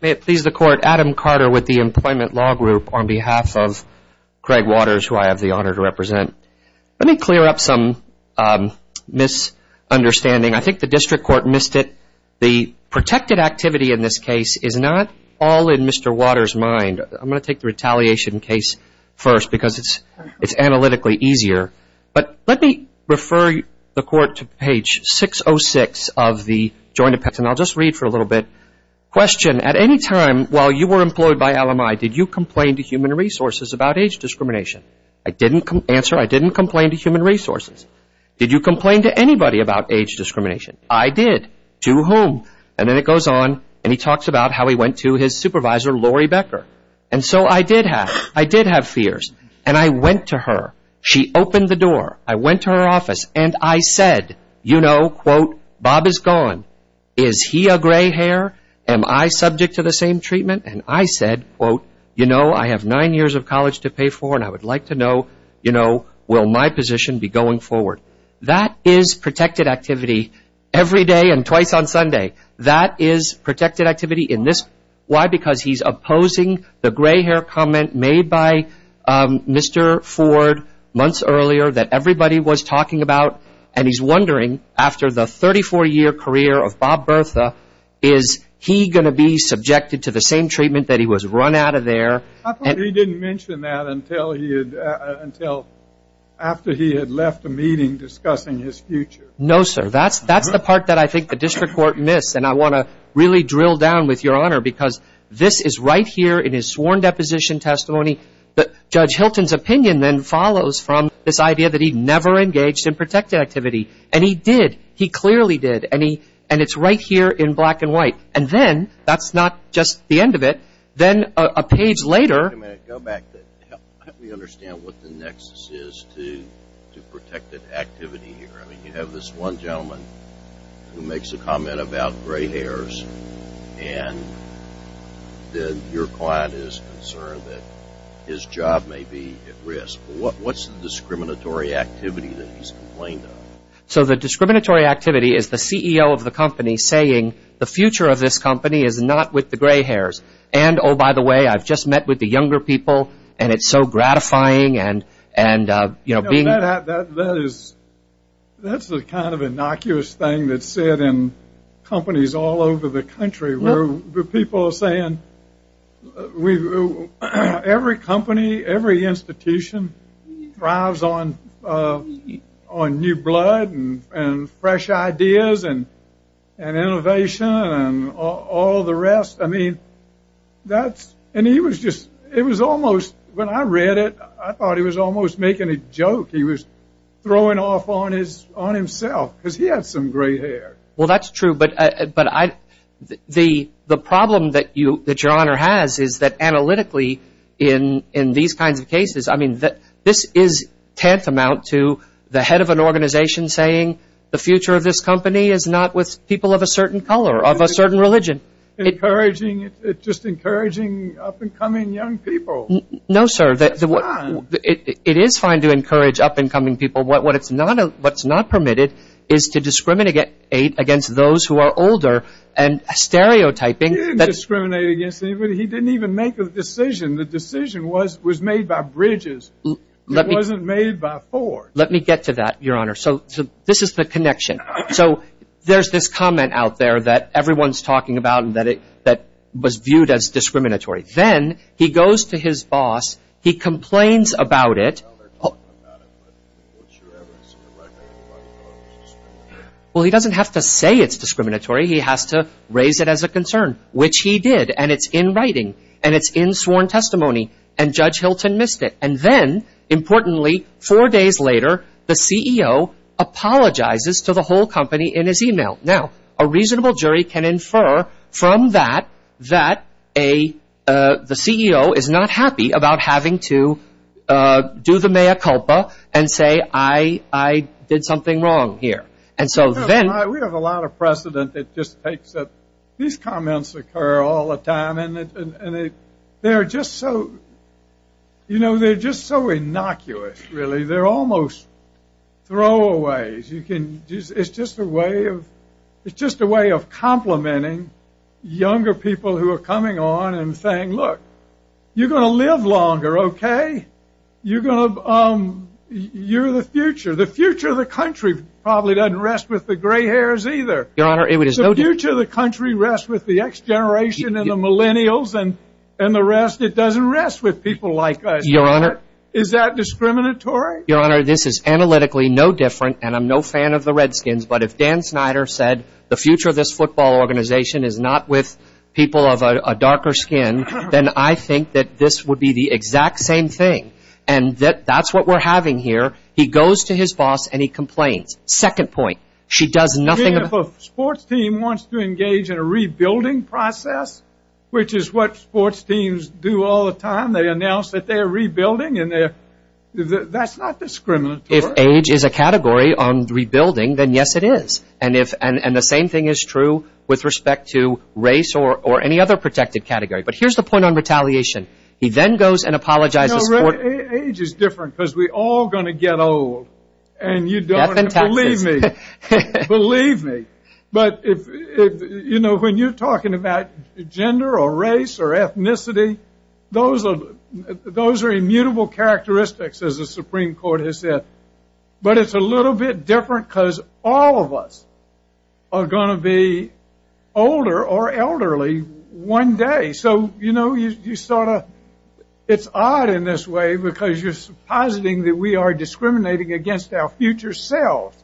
May it please the Court, Adam Carter with the Employment Law Group on behalf of Craig Waters, who I have the honor to represent. Let me clear up some misunderstanding. I think the District Court missed it. The protected activity in this case is not all in Mr. Waters' mind. I'm going to take the retaliation case first because it's analytically easier. But let me refer the Court to page 606 of the Joint Appendix, and I'll just read for a little bit. Question, at any time while you were employed by LMI, did you complain to Human Resources about age discrimination? I didn't answer. I didn't complain to Human Resources. Did you complain to anybody about age discrimination? I did. To whom? And then it goes on, and he talks about how he went to his supervisor, Lori Becker. And so I did have, I did have fears. And I went to her. She opened the door. I went to her office, and I said, you know, quote, Bob is gone. Is he a gray hair? Am I subject to the same treatment? And I said, quote, you know, I have nine years of college to pay for, and I would like to know, you know, will my position be going forward? That is protected activity every day and twice on Sunday. That is protected activity in this. Why? Because he's opposing the gray hair comment made by Mr. Ford months earlier that everybody was talking about, and he's wondering after the 34-year career of Bob Bertha, is he going to be subjected to the same treatment that he was run out of there? I thought he didn't mention that until he had, until after he had left a meeting discussing his future. No, sir. That's the part that I think the district court missed, and I want to really drill down with Your Honor because this is right here in his sworn deposition testimony. Judge Hilton's opinion then follows from this idea that he never engaged in protected activity, and he did. He clearly did, and it's right here in black and white. And then, that's not just the end of it, then a page later. Wait a minute. Go back. Help me understand what the nexus is to protected activity here. You have this one gentleman who makes a comment about gray hairs, and then your client is concerned that his job may be at risk. What's the discriminatory activity that he's complained of? So, the discriminatory activity is the CEO of the company saying, the future of this company is not with the gray hairs. And, oh, by the way, I've just met with the younger people, and it's so gratifying, and, you know, being That's the kind of innocuous thing that's said in companies all over the country, where people are saying every company, every institution thrives on new blood and fresh ideas and innovation and all the rest. I mean, that's, and he was just, it was almost, when I read it, I thought he was almost making a joke. He was throwing off on himself, because he had some gray hair. Well, that's true, but the problem that your Honor has is that analytically in these kinds of cases, I mean, this is tantamount to the head of an organization saying, the future of this company is not with people of a certain color, of a certain religion. Encouraging, just encouraging up-and-coming young people. No, sir. That's fine. It is fine to encourage up-and-coming people. What's not permitted is to discriminate against those who are older and stereotyping. He didn't discriminate against anybody. He didn't even make a decision. The decision was made by Bridges. It wasn't made by Ford. Let me get to that, your Honor. So this is the connection. So there's this comment out there that everyone's talking about and that was viewed as discriminatory. Then he goes to his boss. He complains about it. Well, he doesn't have to say it's discriminatory. He has to raise it as a concern, which he did. And it's in writing, and it's in sworn testimony, and Judge Hilton missed it. And then, importantly, four days later, the CEO apologizes to the whole company in his email. Now, a reasonable jury can infer from that that the CEO is not happy about having to do the mea culpa and say, I did something wrong here. We have a lot of precedent that just takes it. These comments occur all the time, and they're just so innocuous, really. They're almost throwaways. It's just a way of complimenting younger people who are coming on and saying, look, you're going to live longer, okay? You're the future. The future of the country probably doesn't rest with the gray hairs either. Your Honor, it is no different. The future of the country rests with the next generation and the millennials, and the rest, it doesn't rest with people like us. Your Honor. Is that discriminatory? Your Honor, this is analytically no different, and I'm no fan of the Redskins, but if Dan Snyder said the future of this football organization is not with people of a darker skin, then I think that this would be the exact same thing, and that's what we're having here. He goes to his boss, and he complains. Second point, she does nothing about it. If a sports team wants to engage in a rebuilding process, which is what sports teams do all the time, they announce that they're rebuilding, and that's not discriminatory. If age is a category on rebuilding, then yes, it is. And the same thing is true with respect to race or any other protected category. But here's the point on retaliation. He then goes and apologizes for it. Age is different because we're all going to get old, and you don't want to believe me. Believe me. But, you know, when you're talking about gender or race or ethnicity, those are immutable characteristics, as the Supreme Court has said. But it's a little bit different because all of us are going to be older or elderly one day. So, you know, you sort of, it's odd in this way because you're suppositing that we are discriminating against our future self,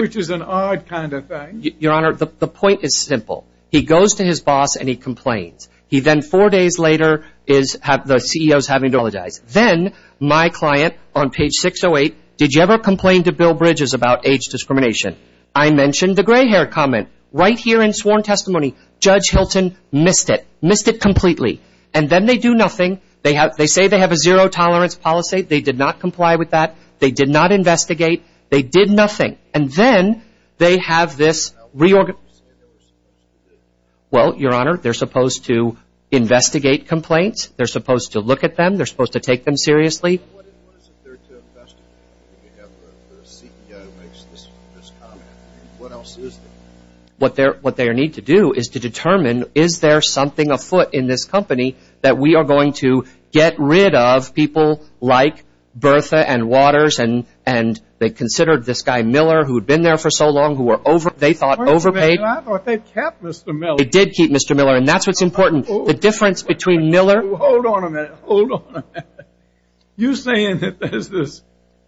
which is an odd kind of thing. Your Honor, the point is simple. He goes to his boss and he complains. He then, four days later, the CEO is having to apologize. Then my client on page 608, did you ever complain to Bill Bridges about age discrimination? I mentioned the gray hair comment. Right here in sworn testimony, Judge Hilton missed it, missed it completely. And then they do nothing. They say they have a zero tolerance policy. They did not comply with that. They did not investigate. They did nothing. And then they have this reorganization. Well, Your Honor, they're supposed to investigate complaints. They're supposed to look at them. They're supposed to take them seriously. What is there to investigate? You have the CEO makes this comment. What else is there? What they need to do is to determine is there something afoot in this company that we are going to get rid of people like Bertha and Waters and they considered this guy Miller, who had been there for so long, who they thought overpaid. I thought they kept Mr. Miller. They did keep Mr. Miller, and that's what's important. The difference between Miller. Hold on a minute. Hold on a minute. You're saying that there's this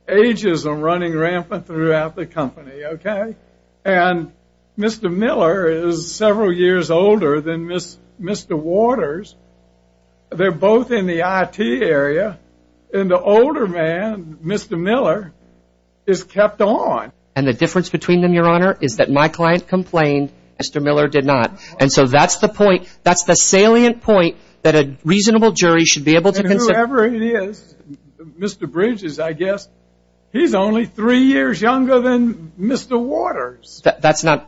ageism running rampant throughout the company, okay? And Mr. Miller is several years older than Mr. Waters. They're both in the IT area, and the older man, Mr. Miller, is kept on. And the difference between them, Your Honor, is that my client complained. Mr. Miller did not. And so that's the point. That's the salient point that a reasonable jury should be able to consider. Whatever it is, Mr. Bridges, I guess, he's only three years younger than Mr. Waters. That's not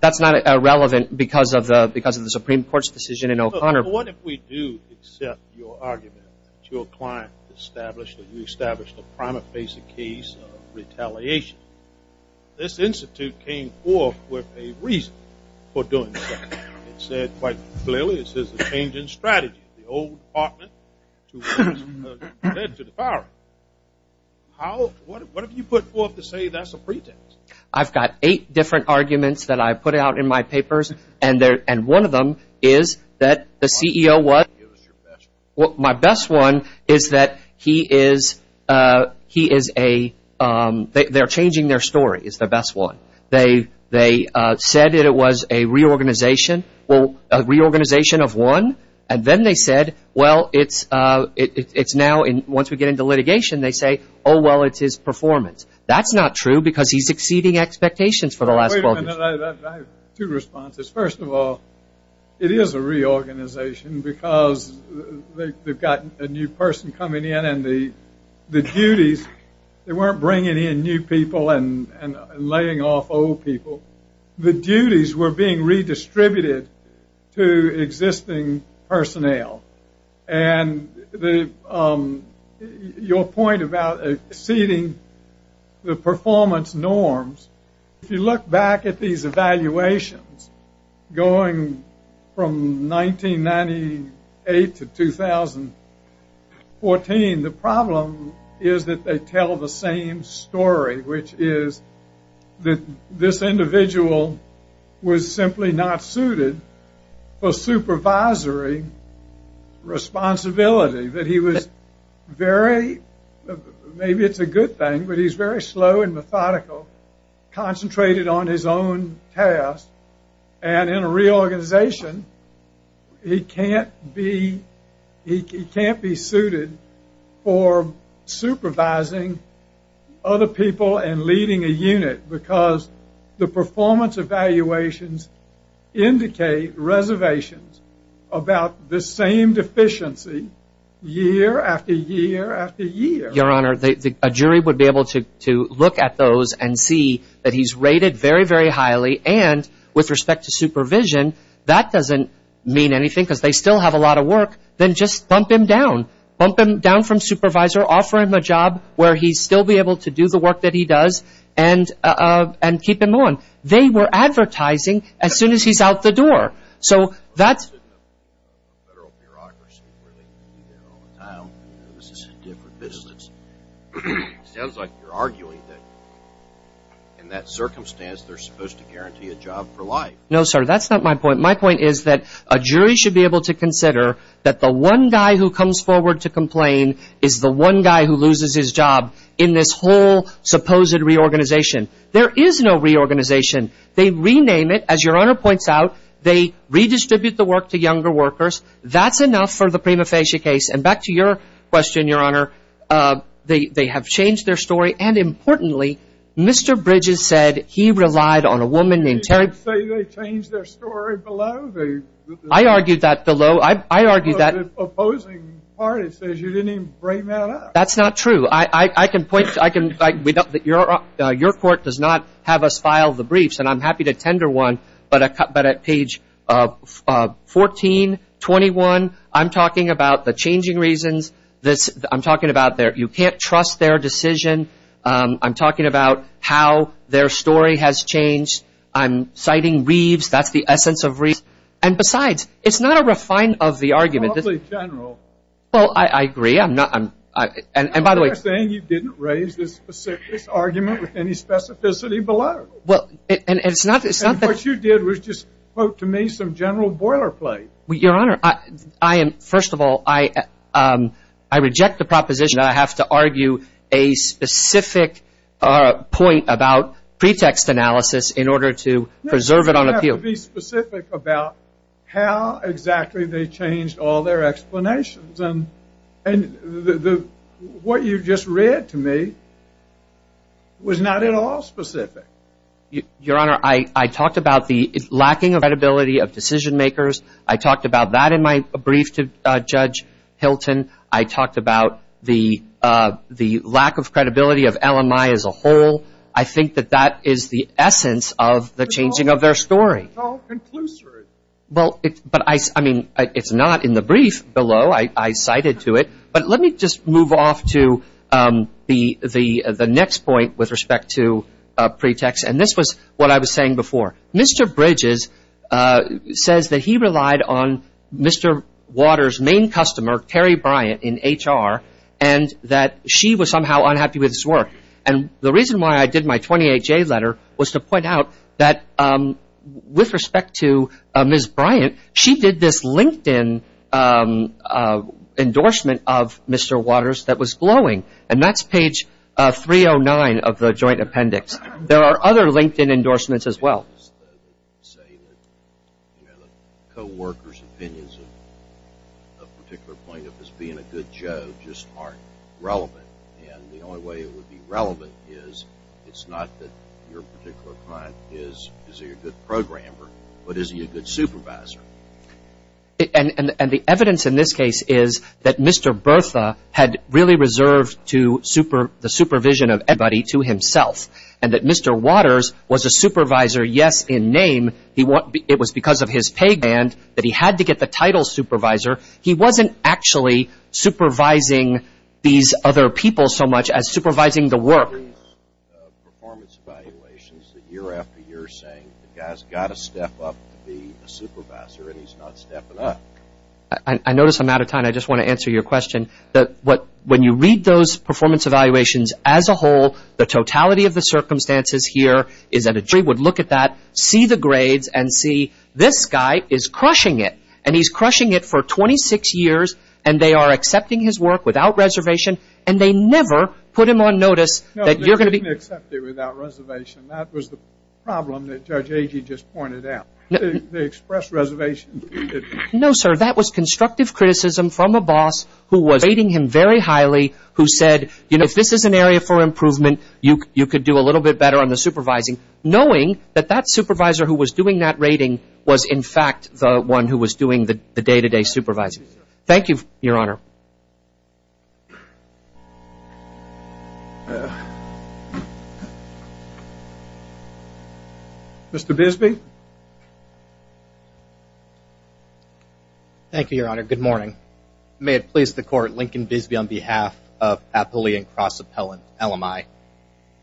irrelevant because of the Supreme Court's decision in O'Connor. What if we do accept your argument that your client established that you established a prima facie case of retaliation? This institute came forth with a reason for doing so. It said quite clearly it's a change in strategy. The old department was led to the firing. What have you put forth to say that's a pretext? I've got eight different arguments that I put out in my papers, and one of them is that the CEO was. My best one is that he is a – they're changing their story is the best one. They said it was a reorganization of one, and then they said, well, it's now once we get into litigation, they say, oh, well, it's his performance. That's not true because he's exceeding expectations for the last 12 years. Wait a minute. I have two responses. First of all, it is a reorganization because they've got a new person coming in, and the duties, they weren't bringing in new people and laying off old people. The duties were being redistributed to existing personnel, and your point about exceeding the performance norms, if you look back at these evaluations going from 1998 to 2014, the problem is that they tell the same story, which is that this individual was simply not suited for supervisory responsibility, that he was very – maybe it's a good thing, but he's very slow and methodical, concentrated on his own task, and in a reorganization, he can't be – he can't be suited for supervising other people and leading a unit because the performance evaluations indicate reservations about the same deficiency year after year after year. Your Honor, a jury would be able to look at those and see that he's rated very, very highly, and with respect to supervision, that doesn't mean anything because they still have a lot of work. Then just bump him down, bump him down from supervisor, offer him a job where he'd still be able to do the work that he does, and keep him on. They were advertising as soon as he's out the door. So that's – But that's in a federal bureaucracy where they can be there all the time and this is a different business. It sounds like you're arguing that in that circumstance, they're supposed to guarantee a job for life. No, sir, that's not my point. My point is that a jury should be able to consider that the one guy who comes forward to complain is the one guy who loses his job in this whole supposed reorganization. There is no reorganization. They rename it, as Your Honor points out. They redistribute the work to younger workers. That's enough for the prima facie case. And back to your question, Your Honor, they have changed their story. And importantly, Mr. Bridges said he relied on a woman named Terry – Did you say they changed their story below? I argued that below. The opposing party says you didn't even bring that up. That's not true. I can point – your court does not have us file the briefs, and I'm happy to tender one, but at page 1421, I'm talking about the changing reasons. I'm talking about you can't trust their decision. I'm talking about how their story has changed. I'm citing Reeves. That's the essence of Reeves. And besides, it's not a refinement of the argument. Well, I agree. And by the way – I'm not saying you didn't raise this argument with any specificity below. And what you did was just quote to me some general boilerplate. Your Honor, first of all, I reject the proposition that I have to argue a specific point about pretext analysis in order to preserve it on appeal. I have to be specific about how exactly they changed all their explanations. And what you just read to me was not at all specific. Your Honor, I talked about the lacking of credibility of decision makers. I talked about that in my brief to Judge Hilton. I talked about the lack of credibility of LMI as a whole. I think that that is the essence of the changing of their story. It's all conclusive. Well, I mean, it's not in the brief below. I cited to it. But let me just move off to the next point with respect to pretext. And this was what I was saying before. Mr. Bridges says that he relied on Mr. Waters' main customer, Terry Bryant, in HR, and that she was somehow unhappy with his work. And the reason why I did my 28-J letter was to point out that with respect to Ms. Bryant, she did this LinkedIn endorsement of Mr. Waters that was glowing. And that's page 309 of the joint appendix. There are other LinkedIn endorsements as well. The co-workers' opinions of a particular point of his being a good Joe just aren't relevant. And the only way it would be relevant is it's not that your particular client is a good programmer, but is he a good supervisor? And the evidence in this case is that Mr. Bertha had really reserved the supervision of everybody to himself and that Mr. Waters was a supervisor, yes, in name. It was because of his pay band that he had to get the title supervisor. He wasn't actually supervising these other people so much as supervising the work. There are performance evaluations year after year saying the guy's got to step up to be a supervisor, and he's not stepping up. I notice I'm out of time. I just want to answer your question. When you read those performance evaluations as a whole, the totality of the circumstances here is that a jury would look at that, see the grades, and see this guy is crushing it. And he's crushing it for 26 years, and they are accepting his work without reservation, and they never put him on notice that you're going to be – No, they didn't accept it without reservation. That was the problem that Judge Agee just pointed out. They expressed reservation. No, sir, that was constructive criticism from a boss who was rating him very highly, who said, you know, if this is an area for improvement, you could do a little bit better on the supervising, knowing that that supervisor who was doing that rating was, in fact, the one who was doing the day-to-day supervising. Thank you, Your Honor. Mr. Bisbee. Thank you, Your Honor. Good morning. May it please the Court, Lincoln Bisbee on behalf of Appalachian Cross Appellant, LMI.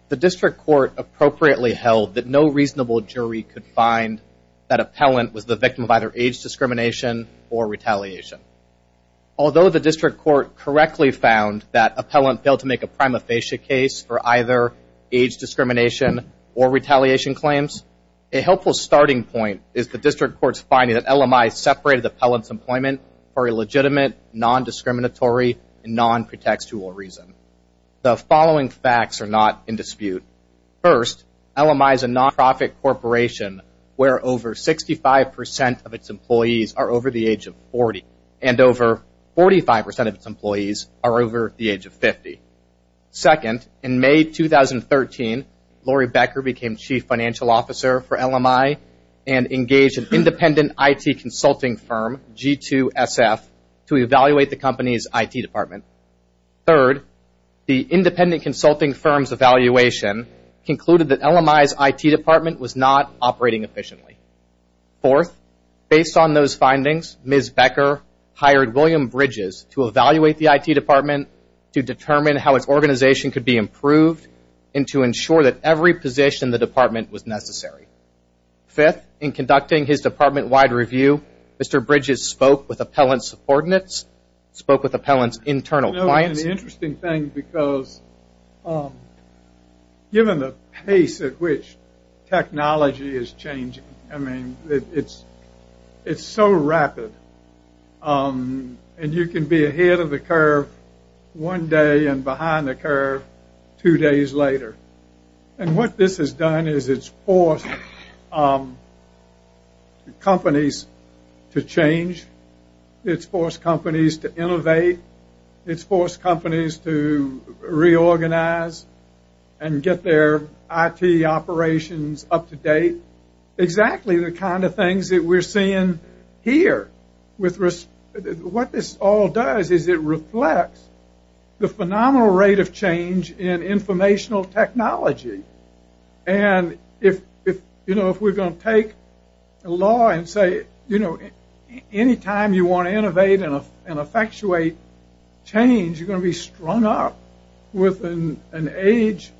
The district court appropriately held that no reasonable jury could find that appellant was the victim of either age discrimination The district court correctly found that appellant failed to make a prima facie case for either age discrimination or retaliation claims. A helpful starting point is the district court's finding that LMI separated the appellant's employment for a legitimate, non-discriminatory, and non-protectual reason. The following facts are not in dispute. First, LMI is a nonprofit corporation where over 65 percent of its employees are over the age of 40, and over 45 percent of its employees are over the age of 50. Second, in May 2013, Laurie Becker became chief financial officer for LMI and engaged an independent IT consulting firm, G2SF, to evaluate the company's IT department. Third, the independent consulting firm's evaluation concluded that LMI's IT department was not operating efficiently. Fourth, based on those findings, Ms. Becker hired William Bridges to evaluate the IT department to determine how its organization could be improved and to ensure that every position in the department was necessary. Fifth, in conducting his department-wide review, Mr. Bridges spoke with appellant's ordinates, spoke with appellant's internal clients. It's an interesting thing because given the pace at which technology is changing, I mean, it's so rapid, and you can be ahead of the curve one day and behind the curve two days later. And what this has done is it's forced companies to change, it's forced companies to innovate, it's forced companies to reorganize and get their IT operations up to date. Exactly the kind of things that we're seeing here. What this all does is it reflects the phenomenal rate of change in informational technology. And if we're going to take a law and say, you know, anytime you want to innovate and effectuate change, you're going to be strung up with an age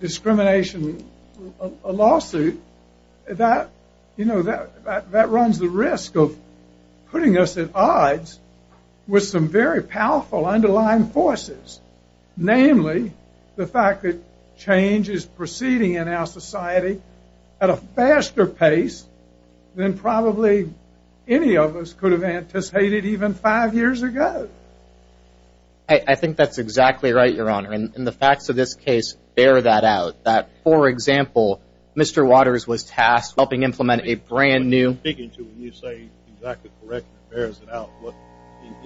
discrimination lawsuit, that runs the risk of putting us at odds with some very powerful underlying forces, namely the fact that change is proceeding in our society at a faster pace than probably any of us could have anticipated even five years ago. I think that's exactly right, Your Honor, and the facts of this case bear that out. That, for example, Mr. Waters was tasked with helping implement a brand new... What you're speaking to when you say exactly correct bears it out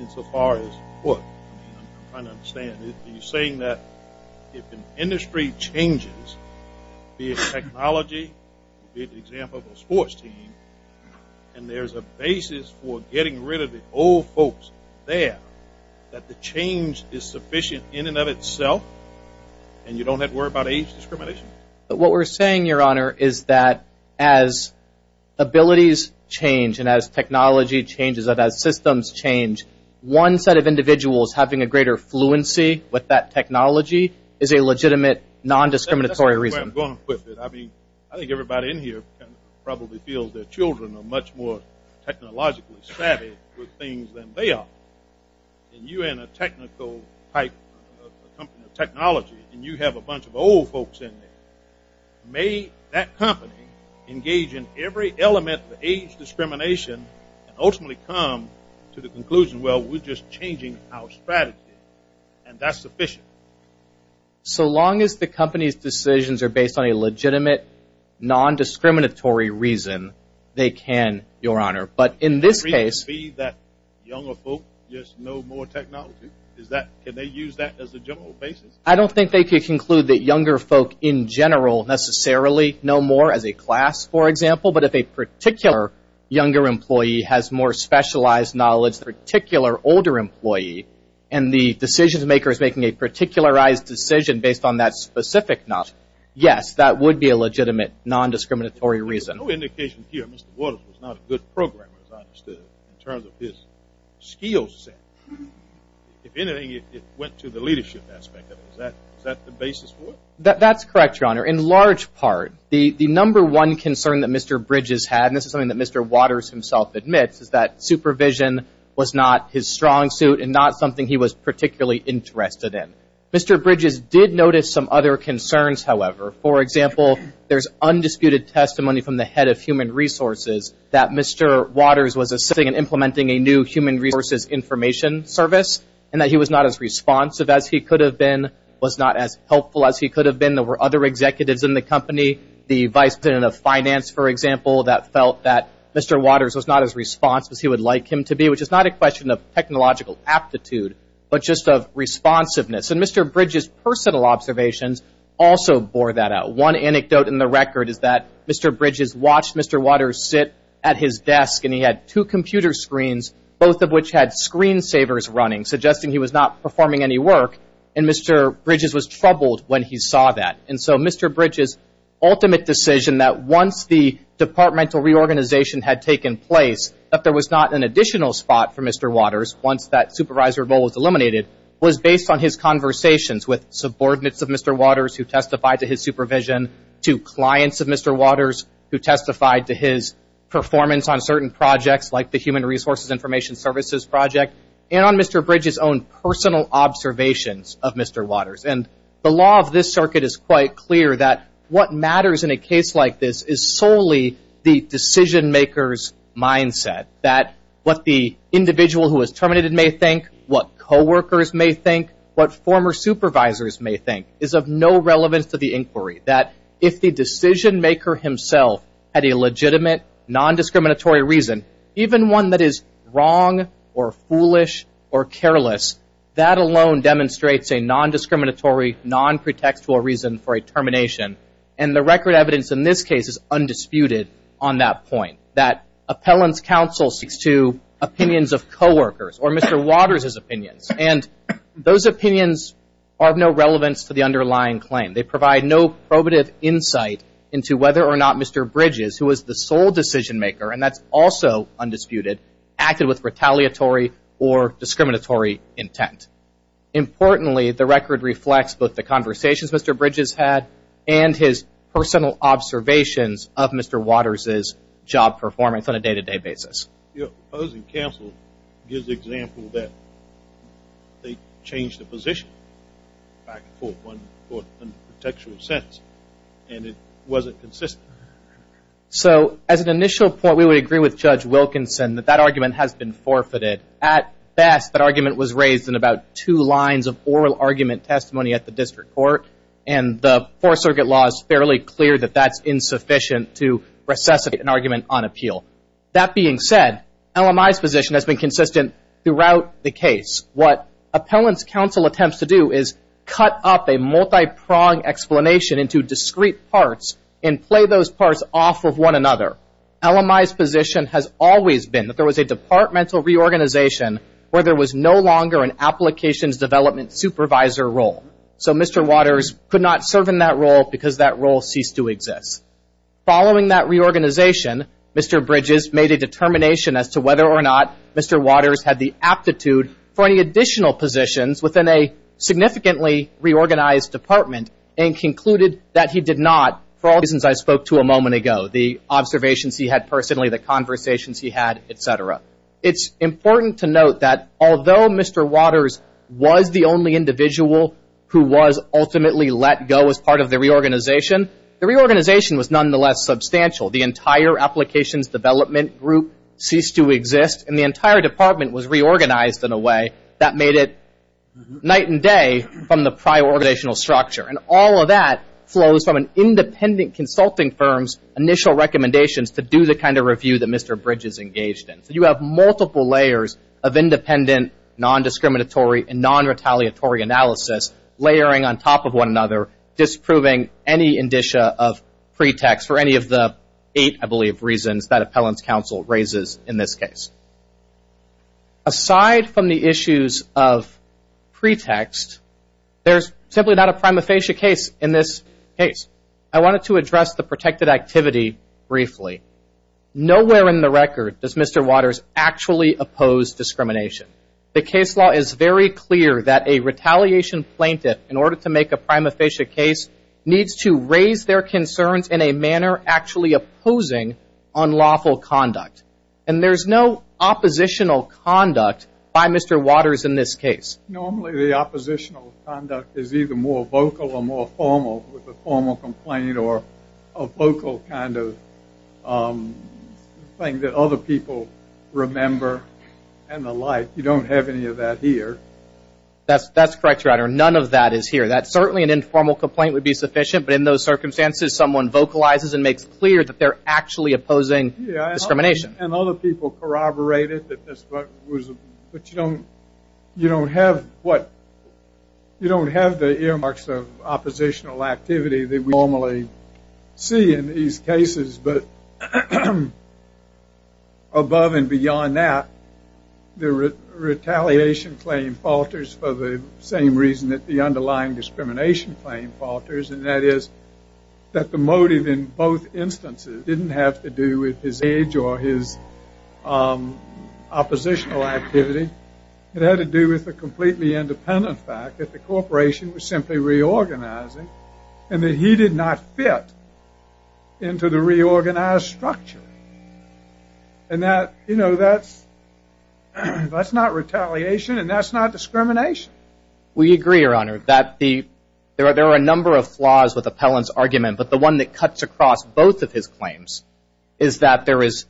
insofar as what? I'm trying to understand. Are you saying that if an industry changes, be it technology, be it the example of a sports team, and there's a basis for getting rid of the old folks there, that the change is sufficient in and of itself and you don't have to worry about age discrimination? What we're saying, Your Honor, is that as abilities change and as technology changes and as systems change, one set of individuals having a greater fluency with that technology is a legitimate non-discriminatory reason. That's where I'm going with it. I mean, I think everybody in here probably feels their children are much more technologically savvy with things than they are. You're in a technical pipe, a company of technology, and you have a bunch of old folks in there. May that company engage in every element of age discrimination and ultimately come to the conclusion, well, we're just changing our strategy, and that's sufficient. So long as the company's decisions are based on a legitimate non-discriminatory reason, they can, Your Honor. But in this case Could it be that younger folk just know more technology? Can they use that as a general basis? I don't think they could conclude that younger folk in general necessarily know more as a class, for example. But if a particular younger employee has more specialized knowledge than a particular older employee, and the decision-maker is making a particularized decision based on that specific knowledge, yes, that would be a legitimate non-discriminatory reason. There's no indication here Mr. Waters was not a good programmer, as I understood, in terms of his skill set. If anything, it went to the leadership aspect of it. Is that the basis for it? That's correct, Your Honor. In large part, the number one concern that Mr. Bridges had, and this is something that Mr. Waters himself admits, is that supervision was not his strong suit and not something he was particularly interested in. Mr. Bridges did notice some other concerns, however. For example, there's undisputed testimony from the head of human resources that Mr. Waters was assisting in implementing a new human resources information service and that he was not as responsive as he could have been, was not as helpful as he could have been. There were other executives in the company, the vice president of finance, for example, that felt that Mr. Waters was not as responsive as he would like him to be, which is not a question of technological aptitude, but just of responsiveness. And Mr. Bridges' personal observations also bore that out. One anecdote in the record is that Mr. Bridges watched Mr. Waters sit at his desk and he had two computer screens, both of which had screen savers running, suggesting he was not performing any work, and Mr. Bridges was troubled when he saw that. And so Mr. Bridges' ultimate decision that once the departmental reorganization had taken place, that there was not an additional spot for Mr. Waters once that supervisor role was eliminated, was based on his conversations with subordinates of Mr. Waters who testified to his supervision, to clients of Mr. Waters who testified to his performance on certain projects like the human resources information services project, and on Mr. Bridges' own personal observations of Mr. Waters. And the law of this circuit is quite clear that what matters in a case like this is solely the decision-maker's mindset, that what the individual who was terminated may think, what co-workers may think, what former supervisors may think, is of no relevance to the inquiry. That if the decision-maker himself had a legitimate, non-discriminatory reason, even one that is wrong or foolish or careless, that alone demonstrates a non-discriminatory, non-pretextual reason for a termination. And the record evidence in this case is undisputed on that point, that appellant's counsel speaks to opinions of co-workers or Mr. Waters' opinions, and those opinions are of no relevance to the underlying claim. They provide no probative insight into whether or not Mr. Bridges, who was the sole decision-maker, and that's also undisputed, acted with retaliatory or discriminatory intent. Importantly, the record reflects both the conversations Mr. Bridges had and his personal observations of Mr. Waters' job performance on a day-to-day basis. Your opposing counsel gives the example that they changed the position, back and forth, in a pretextual sense, and it wasn't consistent. So, as an initial point, we would agree with Judge Wilkinson that that argument has been forfeited. At best, that argument was raised in about two lines of oral argument testimony at the district court, and the Fourth Circuit law is fairly clear that that's insufficient to recess an argument on appeal. That being said, LMI's position has been consistent throughout the case. What appellant's counsel attempts to do is cut up a multipronged explanation into discrete parts and play those parts off of one another. LMI's position has always been that there was a departmental reorganization where there was no longer an applications development supervisor role. So Mr. Waters could not serve in that role because that role ceased to exist. Following that reorganization, Mr. Bridges made a determination as to whether or not Mr. Waters had the aptitude for any additional positions within a significantly reorganized department and concluded that he did not, for all reasons I spoke to a moment ago, the observations he had personally, the conversations he had, et cetera. It's important to note that although Mr. Waters was the only individual who was ultimately let go as part of the reorganization, the reorganization was nonetheless substantial. The entire applications development group ceased to exist, and the entire department was reorganized in a way that made it night and day from the prior organizational structure. And all of that flows from an independent consulting firm's initial recommendations to do the kind of review that Mr. Bridges engaged in. So you have multiple layers of independent, non-discriminatory, and non-retaliatory analysis layering on top of one another, disproving any indicia of pretext for any of the eight, I believe, reasons that appellant's counsel raises in this case. Aside from the issues of pretext, there's simply not a prima facie case in this case. I wanted to address the protected activity briefly. Nowhere in the record does Mr. Waters actually oppose discrimination. The case law is very clear that a retaliation plaintiff, in order to make a prima facie case, needs to raise their concerns in a manner actually opposing unlawful conduct. And there's no oppositional conduct by Mr. Waters in this case. Normally the oppositional conduct is either more vocal or more formal with a formal complaint or a vocal kind of thing that other people remember and the like. You don't have any of that here. That's correct, Your Honor. None of that is here. Certainly an informal complaint would be sufficient, but in those circumstances, someone vocalizes and makes clear that they're actually opposing discrimination. And other people corroborate it, but you don't have the earmarks of oppositional activity that we normally see in these cases. But above and beyond that, the retaliation claim falters for the same reason that the underlying discrimination claim falters, and that is that the motive in both instances didn't have to do with his age or his oppositional activity. It had to do with the completely independent fact that the corporation was simply reorganizing and that he did not fit into the reorganized structure. And that's not retaliation and that's not discrimination. We agree, Your Honor, that there are a number of flaws with Appellant's argument, but the one that cuts across both of his claims is that there is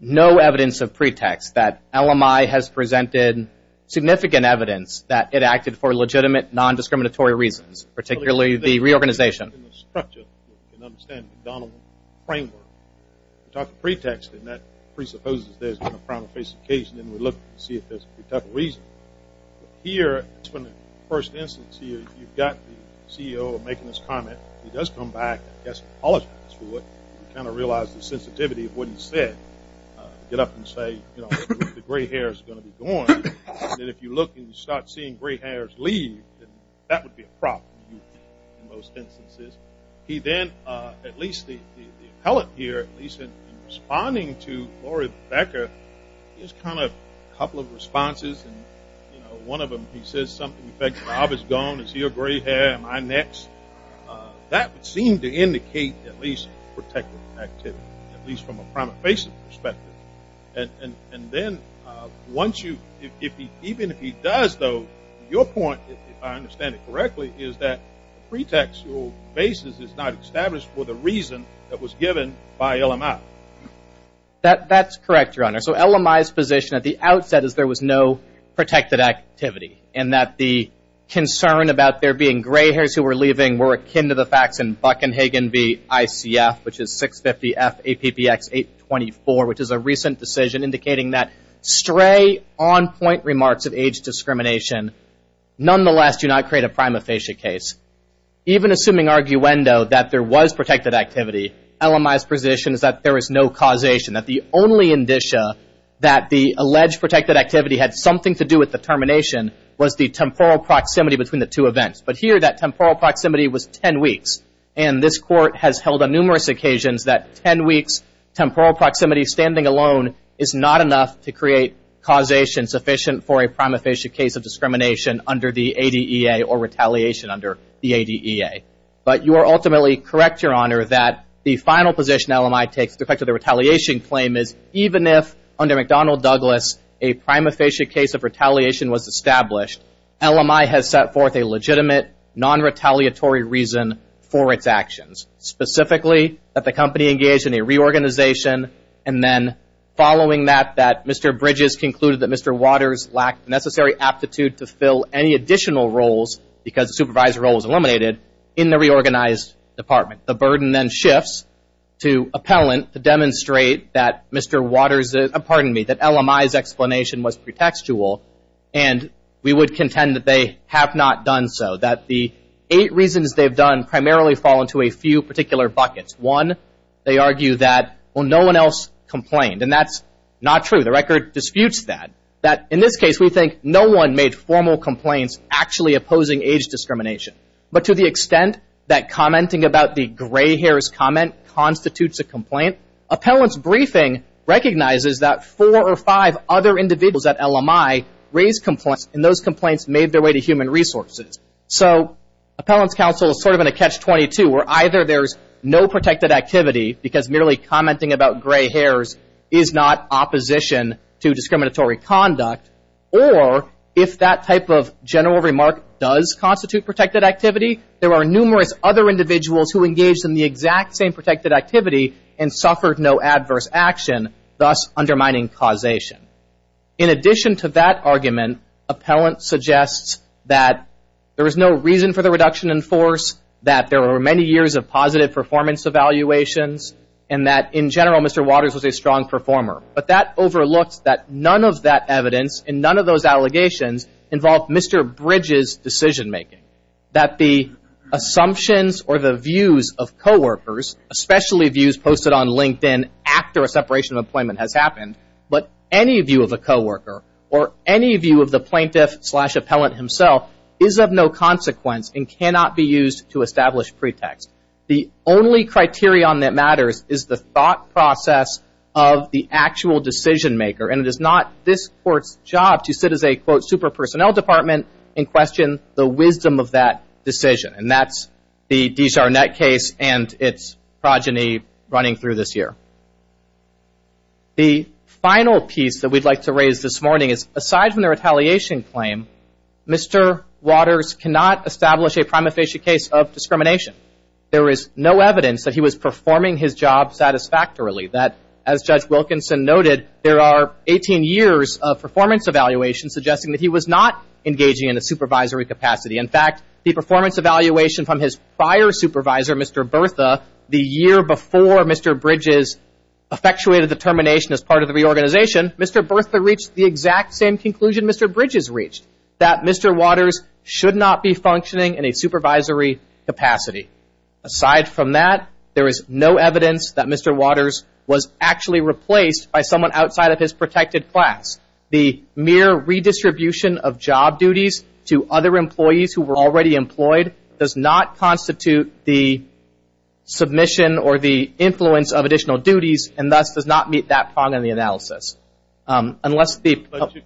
no evidence of pretext, that LMI has presented significant evidence that it acted for legitimate, non-discriminatory reasons, particularly the reorganization. In the structure, you can understand the McDonald framework. We talk of pretext and that presupposes there's going to be a front-of-face occasion and we look to see if there's a pretext reason. Here, in the first instance here, you've got the CEO making this comment. He does come back. I guess he apologizes for it. You kind of realize the sensitivity of what he said. Get up and say, you know, the gray hair is going to be gone. And if you look and you start seeing gray hairs leave, then that would be a problem in most instances. He then, at least the appellant here, at least in responding to Lori Becker, here's kind of a couple of responses. And, you know, one of them, he says something, in fact, Rob is gone. Is he a gray hair? Am I next? That would seem to indicate at least protective activity, at least from a front-of-face perspective. And then once you – even if he does, though, your point, if I understand it correctly, is that pretextual basis is not established for the reason that was given by LMI. That's correct, Your Honor. So LMI's position at the outset is there was no protected activity and that the concern about there being gray hairs who were leaving were akin to the facts in Buck and Hagen v. ICF, which is 650-F-APPX-824, which is a recent decision indicating that stray on-point remarks of age discrimination nonetheless do not create a prima facie case. Even assuming arguendo that there was protected activity, LMI's position is that there is no causation, that the only indicia that the alleged protected activity had something to do with the termination was the temporal proximity between the two events. But here that temporal proximity was 10 weeks. And this Court has held on numerous occasions that 10 weeks' temporal proximity standing alone is not enough to create causation sufficient for a prima facie case of discrimination under the ADEA or retaliation under the ADEA. But you are ultimately correct, Your Honor, that the final position LMI takes with respect to the retaliation claim is even if under McDonnell Douglas a prima facie case of retaliation was established, LMI has set forth a legitimate, non-retaliatory reason for its actions, specifically that the company engaged in a reorganization and then following that, that Mr. Bridges concluded that Mr. Waters lacked the necessary aptitude to fill any additional roles because the supervisor role was eliminated in the reorganized department. The burden then shifts to appellant to demonstrate that Mr. Waters' pardon me, that LMI's explanation was pretextual and we would contend that they have not done so. That the eight reasons they've done primarily fall into a few particular buckets. One, they argue that, well, no one else complained. And that's not true. The record disputes that. That in this case we think no one made formal complaints actually opposing age discrimination. But to the extent that commenting about the gray hairs comment constitutes a complaint, appellant's briefing recognizes that four or five other individuals at LMI raised complaints and those complaints made their way to human resources. So appellant's counsel is sort of in a catch-22 where either there's no protected activity because merely commenting about gray hairs is not opposition to discriminatory conduct, or if that type of general remark does constitute protected activity, there are numerous other individuals who engaged in the exact same protected activity and suffered no adverse action, thus undermining causation. In addition to that argument, appellant suggests that there is no reason for the reduction in force, that there were many years of positive performance evaluations, and that in general Mr. Waters was a strong performer. But that overlooks that none of that evidence and none of those allegations involved Mr. Bridges' decision-making. That the assumptions or the views of coworkers, especially views posted on LinkedIn after a separation of employment has happened, but any view of a coworker or any view of the plaintiff-slash-appellant himself is of no consequence and cannot be used to establish pretext. The only criterion that matters is the thought process of the actual decision-maker, and it is not this Court's job to sit as a, quote, super-personnel department and question the wisdom of that decision. And that's the D-Char-Net case and its progeny running through this year. The final piece that we'd like to raise this morning is, aside from the retaliation claim, Mr. Waters cannot establish a prima facie case of discrimination. There is no evidence that he was performing his job satisfactorily. That, as Judge Wilkinson noted, there are 18 years of performance evaluations suggesting that he was not engaging in a supervisory capacity. In fact, the performance evaluation from his prior supervisor, Mr. Bertha, the year before Mr. Bridges effectuated the termination as part of the reorganization, Mr. Bertha reached the exact same conclusion Mr. Bridges reached, that Mr. Waters should not be functioning in a supervisory capacity. Aside from that, there is no evidence that Mr. Waters was actually replaced by someone outside of his protected class. The mere redistribution of job duties to other employees who were already employed does not constitute the submission or the influence of additional duties and thus does not meet that part of the analysis. But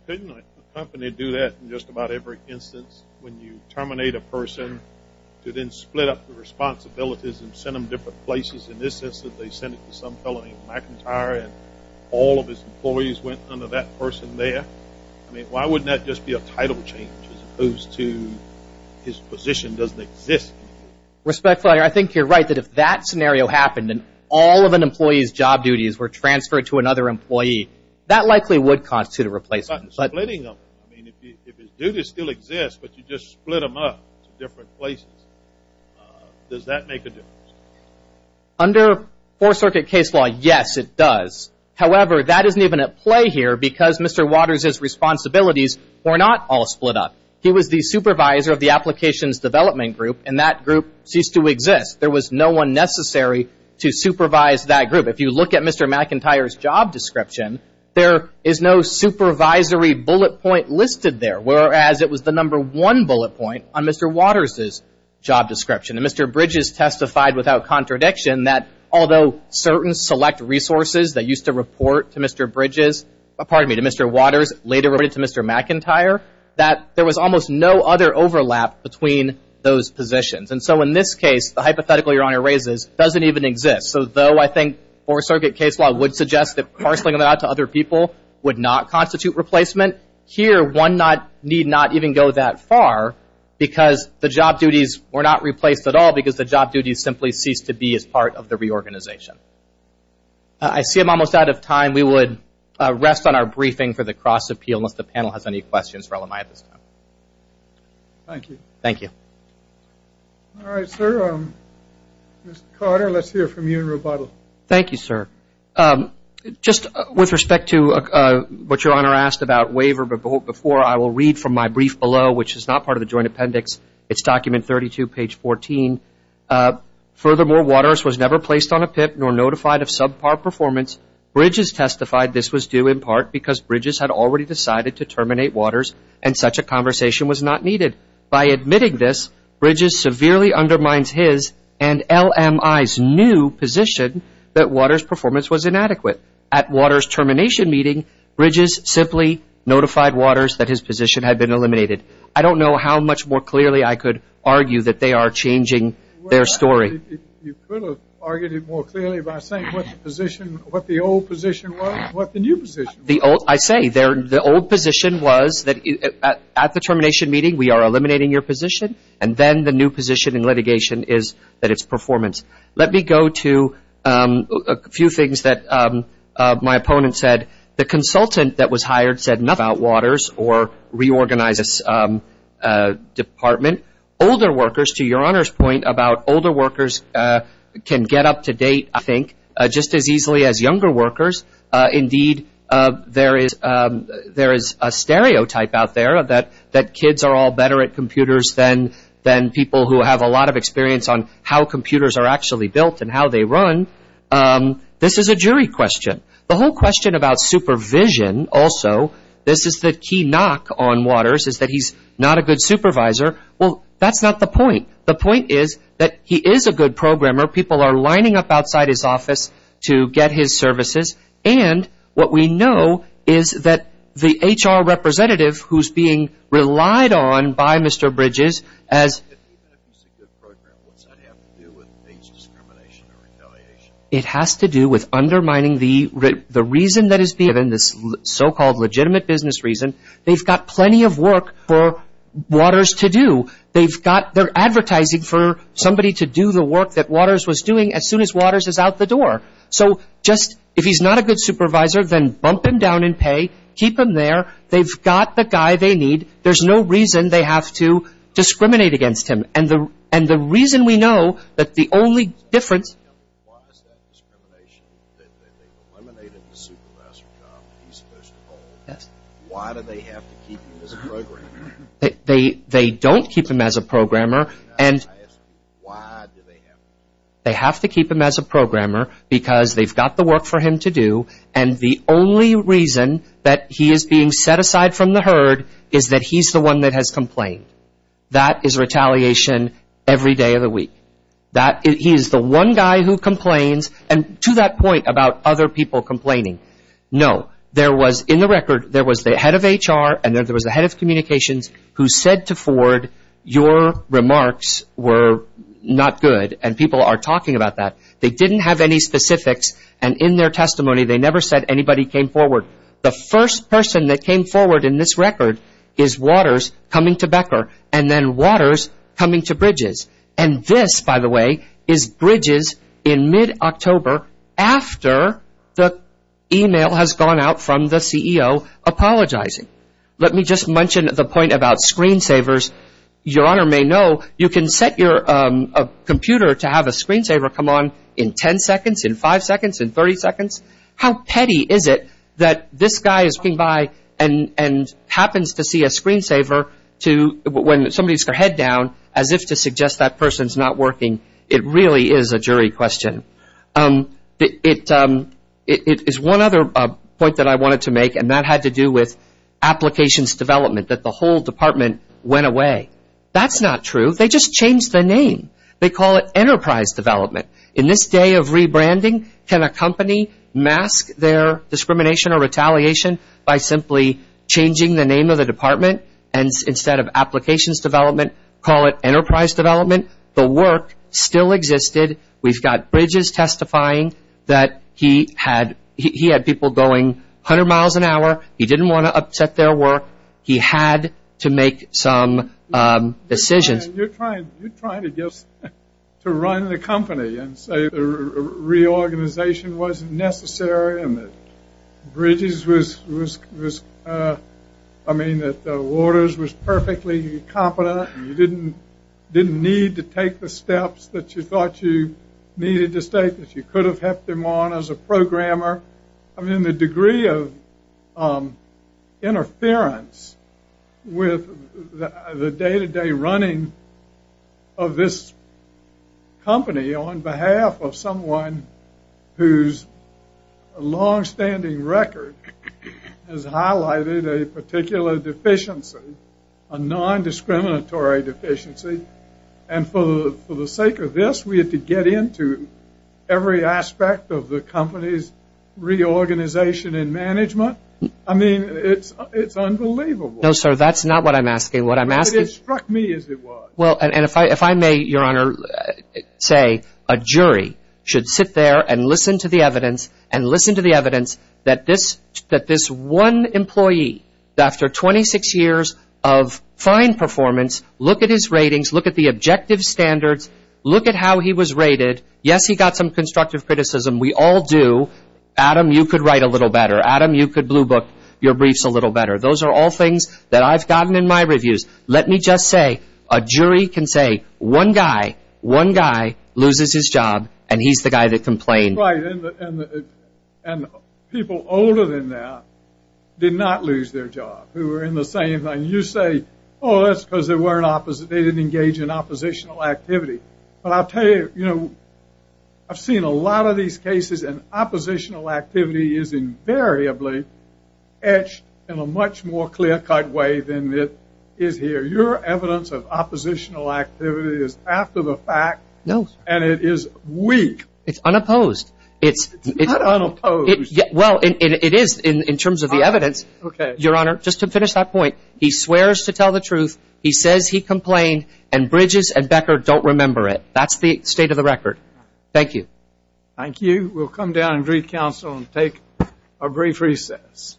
couldn't a company do that in just about every instance when you terminate a person to then split up the responsibilities and send them different places in the sense that they send it to some fellow named McIntyre and all of his employees went under that person there? I mean, why wouldn't that just be a title change as opposed to his position doesn't exist? Respectfully, I think you're right that if that scenario happened and all of an employee's job duties were transferred to another employee, that likely would constitute a replacement. But splitting them, I mean, if his duties still exist, but you just split them up to different places, does that make a difference? Under Fourth Circuit case law, yes, it does. However, that isn't even at play here because Mr. Waters' responsibilities were not all split up. He was the supervisor of the applications development group, and that group ceased to exist. There was no one necessary to supervise that group. If you look at Mr. McIntyre's job description, there is no supervisory bullet point listed there, whereas it was the number one bullet point on Mr. Waters' job description. And Mr. Bridges testified without contradiction that although certain select resources that used to report to Mr. Bridges, pardon me, to Mr. Waters, later reported to Mr. McIntyre, that there was almost no other overlap between those positions. And so in this case, the hypothetical Your Honor raises doesn't even exist. So though I think Fourth Circuit case law would suggest that parceling them out to other people would not constitute replacement, here one need not even go that far because the job duties were not replaced at all because the job duties simply ceased to be as part of the reorganization. I see I'm almost out of time. We would rest on our briefing for the cross-appeal unless the panel has any questions for LMI at this time. Thank you. Thank you. All right, sir. Mr. Carter, let's hear from you in rebuttal. Thank you, sir. Just with respect to what Your Honor asked about waiver before, I will read from my brief below, which is not part of the joint appendix. It's document 32, page 14. Furthermore, Waters was never placed on a PIP nor notified of subpar performance. Bridges testified this was due in part because Bridges had already decided to terminate Waters and such a conversation was not needed. By admitting this, Bridges severely undermines his and LMI's new position that Waters' performance was inadequate. At Waters' termination meeting, Bridges simply notified Waters that his position had been eliminated. I don't know how much more clearly I could argue that they are changing their story. You could have argued it more clearly by saying what the position, what the old position was, what the new position was. I say the old position was that at the termination meeting we are eliminating your position, and then the new position in litigation is that it's performance. Let me go to a few things that my opponent said. The consultant that was hired said nothing about Waters or reorganizes department. Older workers, to Your Honor's point about older workers can get up to date, I think, just as easily as younger workers. Indeed, there is a stereotype out there that kids are all better at computers than people who have a lot of experience on how computers are actually built and how they run. This is a jury question. The whole question about supervision also, this is the key knock on Waters, is that he's not a good supervisor. Well, that's not the point. The point is that he is a good programmer. People are lining up outside his office to get his services, and what we know is that the HR representative who's being relied on by Mr. Bridges as Even if he's a good programmer, what does that have to do with age discrimination or retaliation? It has to do with undermining the reason that is being given, this so-called legitimate business reason. They've got plenty of work for Waters to do. They're advertising for somebody to do the work that Waters was doing as soon as Waters is out the door. So just if he's not a good supervisor, then bump him down in pay, keep him there. They've got the guy they need. There's no reason they have to discriminate against him. And the reason we know that the only difference Why is that discrimination that they've eliminated the supervisor job that he's supposed to hold? Why do they have to keep him as a programmer? They don't keep him as a programmer. They have to keep him as a programmer because they've got the work for him to do, and the only reason that he is being set aside from the herd is that he's the one that has complained. That is retaliation every day of the week. He is the one guy who complains, and to that point about other people complaining, no. There was, in the record, there was the head of HR and then there was the head of communications who said to Ford, your remarks were not good, and people are talking about that. They didn't have any specifics, and in their testimony, they never said anybody came forward. The first person that came forward in this record is Waters coming to Becker, and then Waters coming to Bridges. And this, by the way, is Bridges in mid-October after the email has gone out from the CEO apologizing. Let me just mention the point about screensavers. Your Honor may know you can set your computer to have a screensaver come on in 10 seconds, in 5 seconds, in 30 seconds. How petty is it that this guy is coming by and happens to see a screensaver when somebody has their head down as if to suggest that person is not working? It really is a jury question. It is one other point that I wanted to make, and that had to do with applications development, that the whole department went away. That's not true. They just changed the name. They call it enterprise development. In this day of rebranding, can a company mask their discrimination or retaliation by simply changing the name of the department instead of applications development, call it enterprise development? The work still existed. We've got Bridges testifying that he had people going 100 miles an hour. He didn't want to upset their work. He had to make some decisions. You're trying to run the company and say reorganization wasn't necessary and that Waters was perfectly competent and you didn't need to take the steps that you thought you needed to take, that you could have kept them on as a programmer. I mean, the degree of interference with the day-to-day running of this company on behalf of someone whose longstanding record has highlighted a particular deficiency, a nondiscriminatory deficiency, and for the sake of this we had to get into every aspect of the company's reorganization and management. I mean, it's unbelievable. No, sir, that's not what I'm asking. It struck me as it was. Well, and if I may, Your Honor, say a jury should sit there and listen to the evidence and listen to the evidence that this one employee, after 26 years of fine performance, look at his ratings, look at the objective standards, look at how he was rated. Yes, he got some constructive criticism. We all do. Adam, you could write a little better. Adam, you could blue book your briefs a little better. Those are all things that I've gotten in my reviews. Let me just say a jury can say one guy, one guy loses his job, and he's the guy that complained. Right, and people older than that did not lose their job, who were in the same thing. You say, oh, that's because they didn't engage in oppositional activity. But I'll tell you, you know, I've seen a lot of these cases, and oppositional activity is invariably etched in a much more clear-cut way than it is here. Your evidence of oppositional activity is after the fact. No. And it is weak. It's unopposed. It's not unopposed. Well, it is in terms of the evidence. Okay. Your Honor, just to finish that point, he swears to tell the truth, he says he complained, and Bridges and Becker don't remember it. That's the state of the record. Thank you. Thank you. We'll come down and greet counsel and take a brief recess.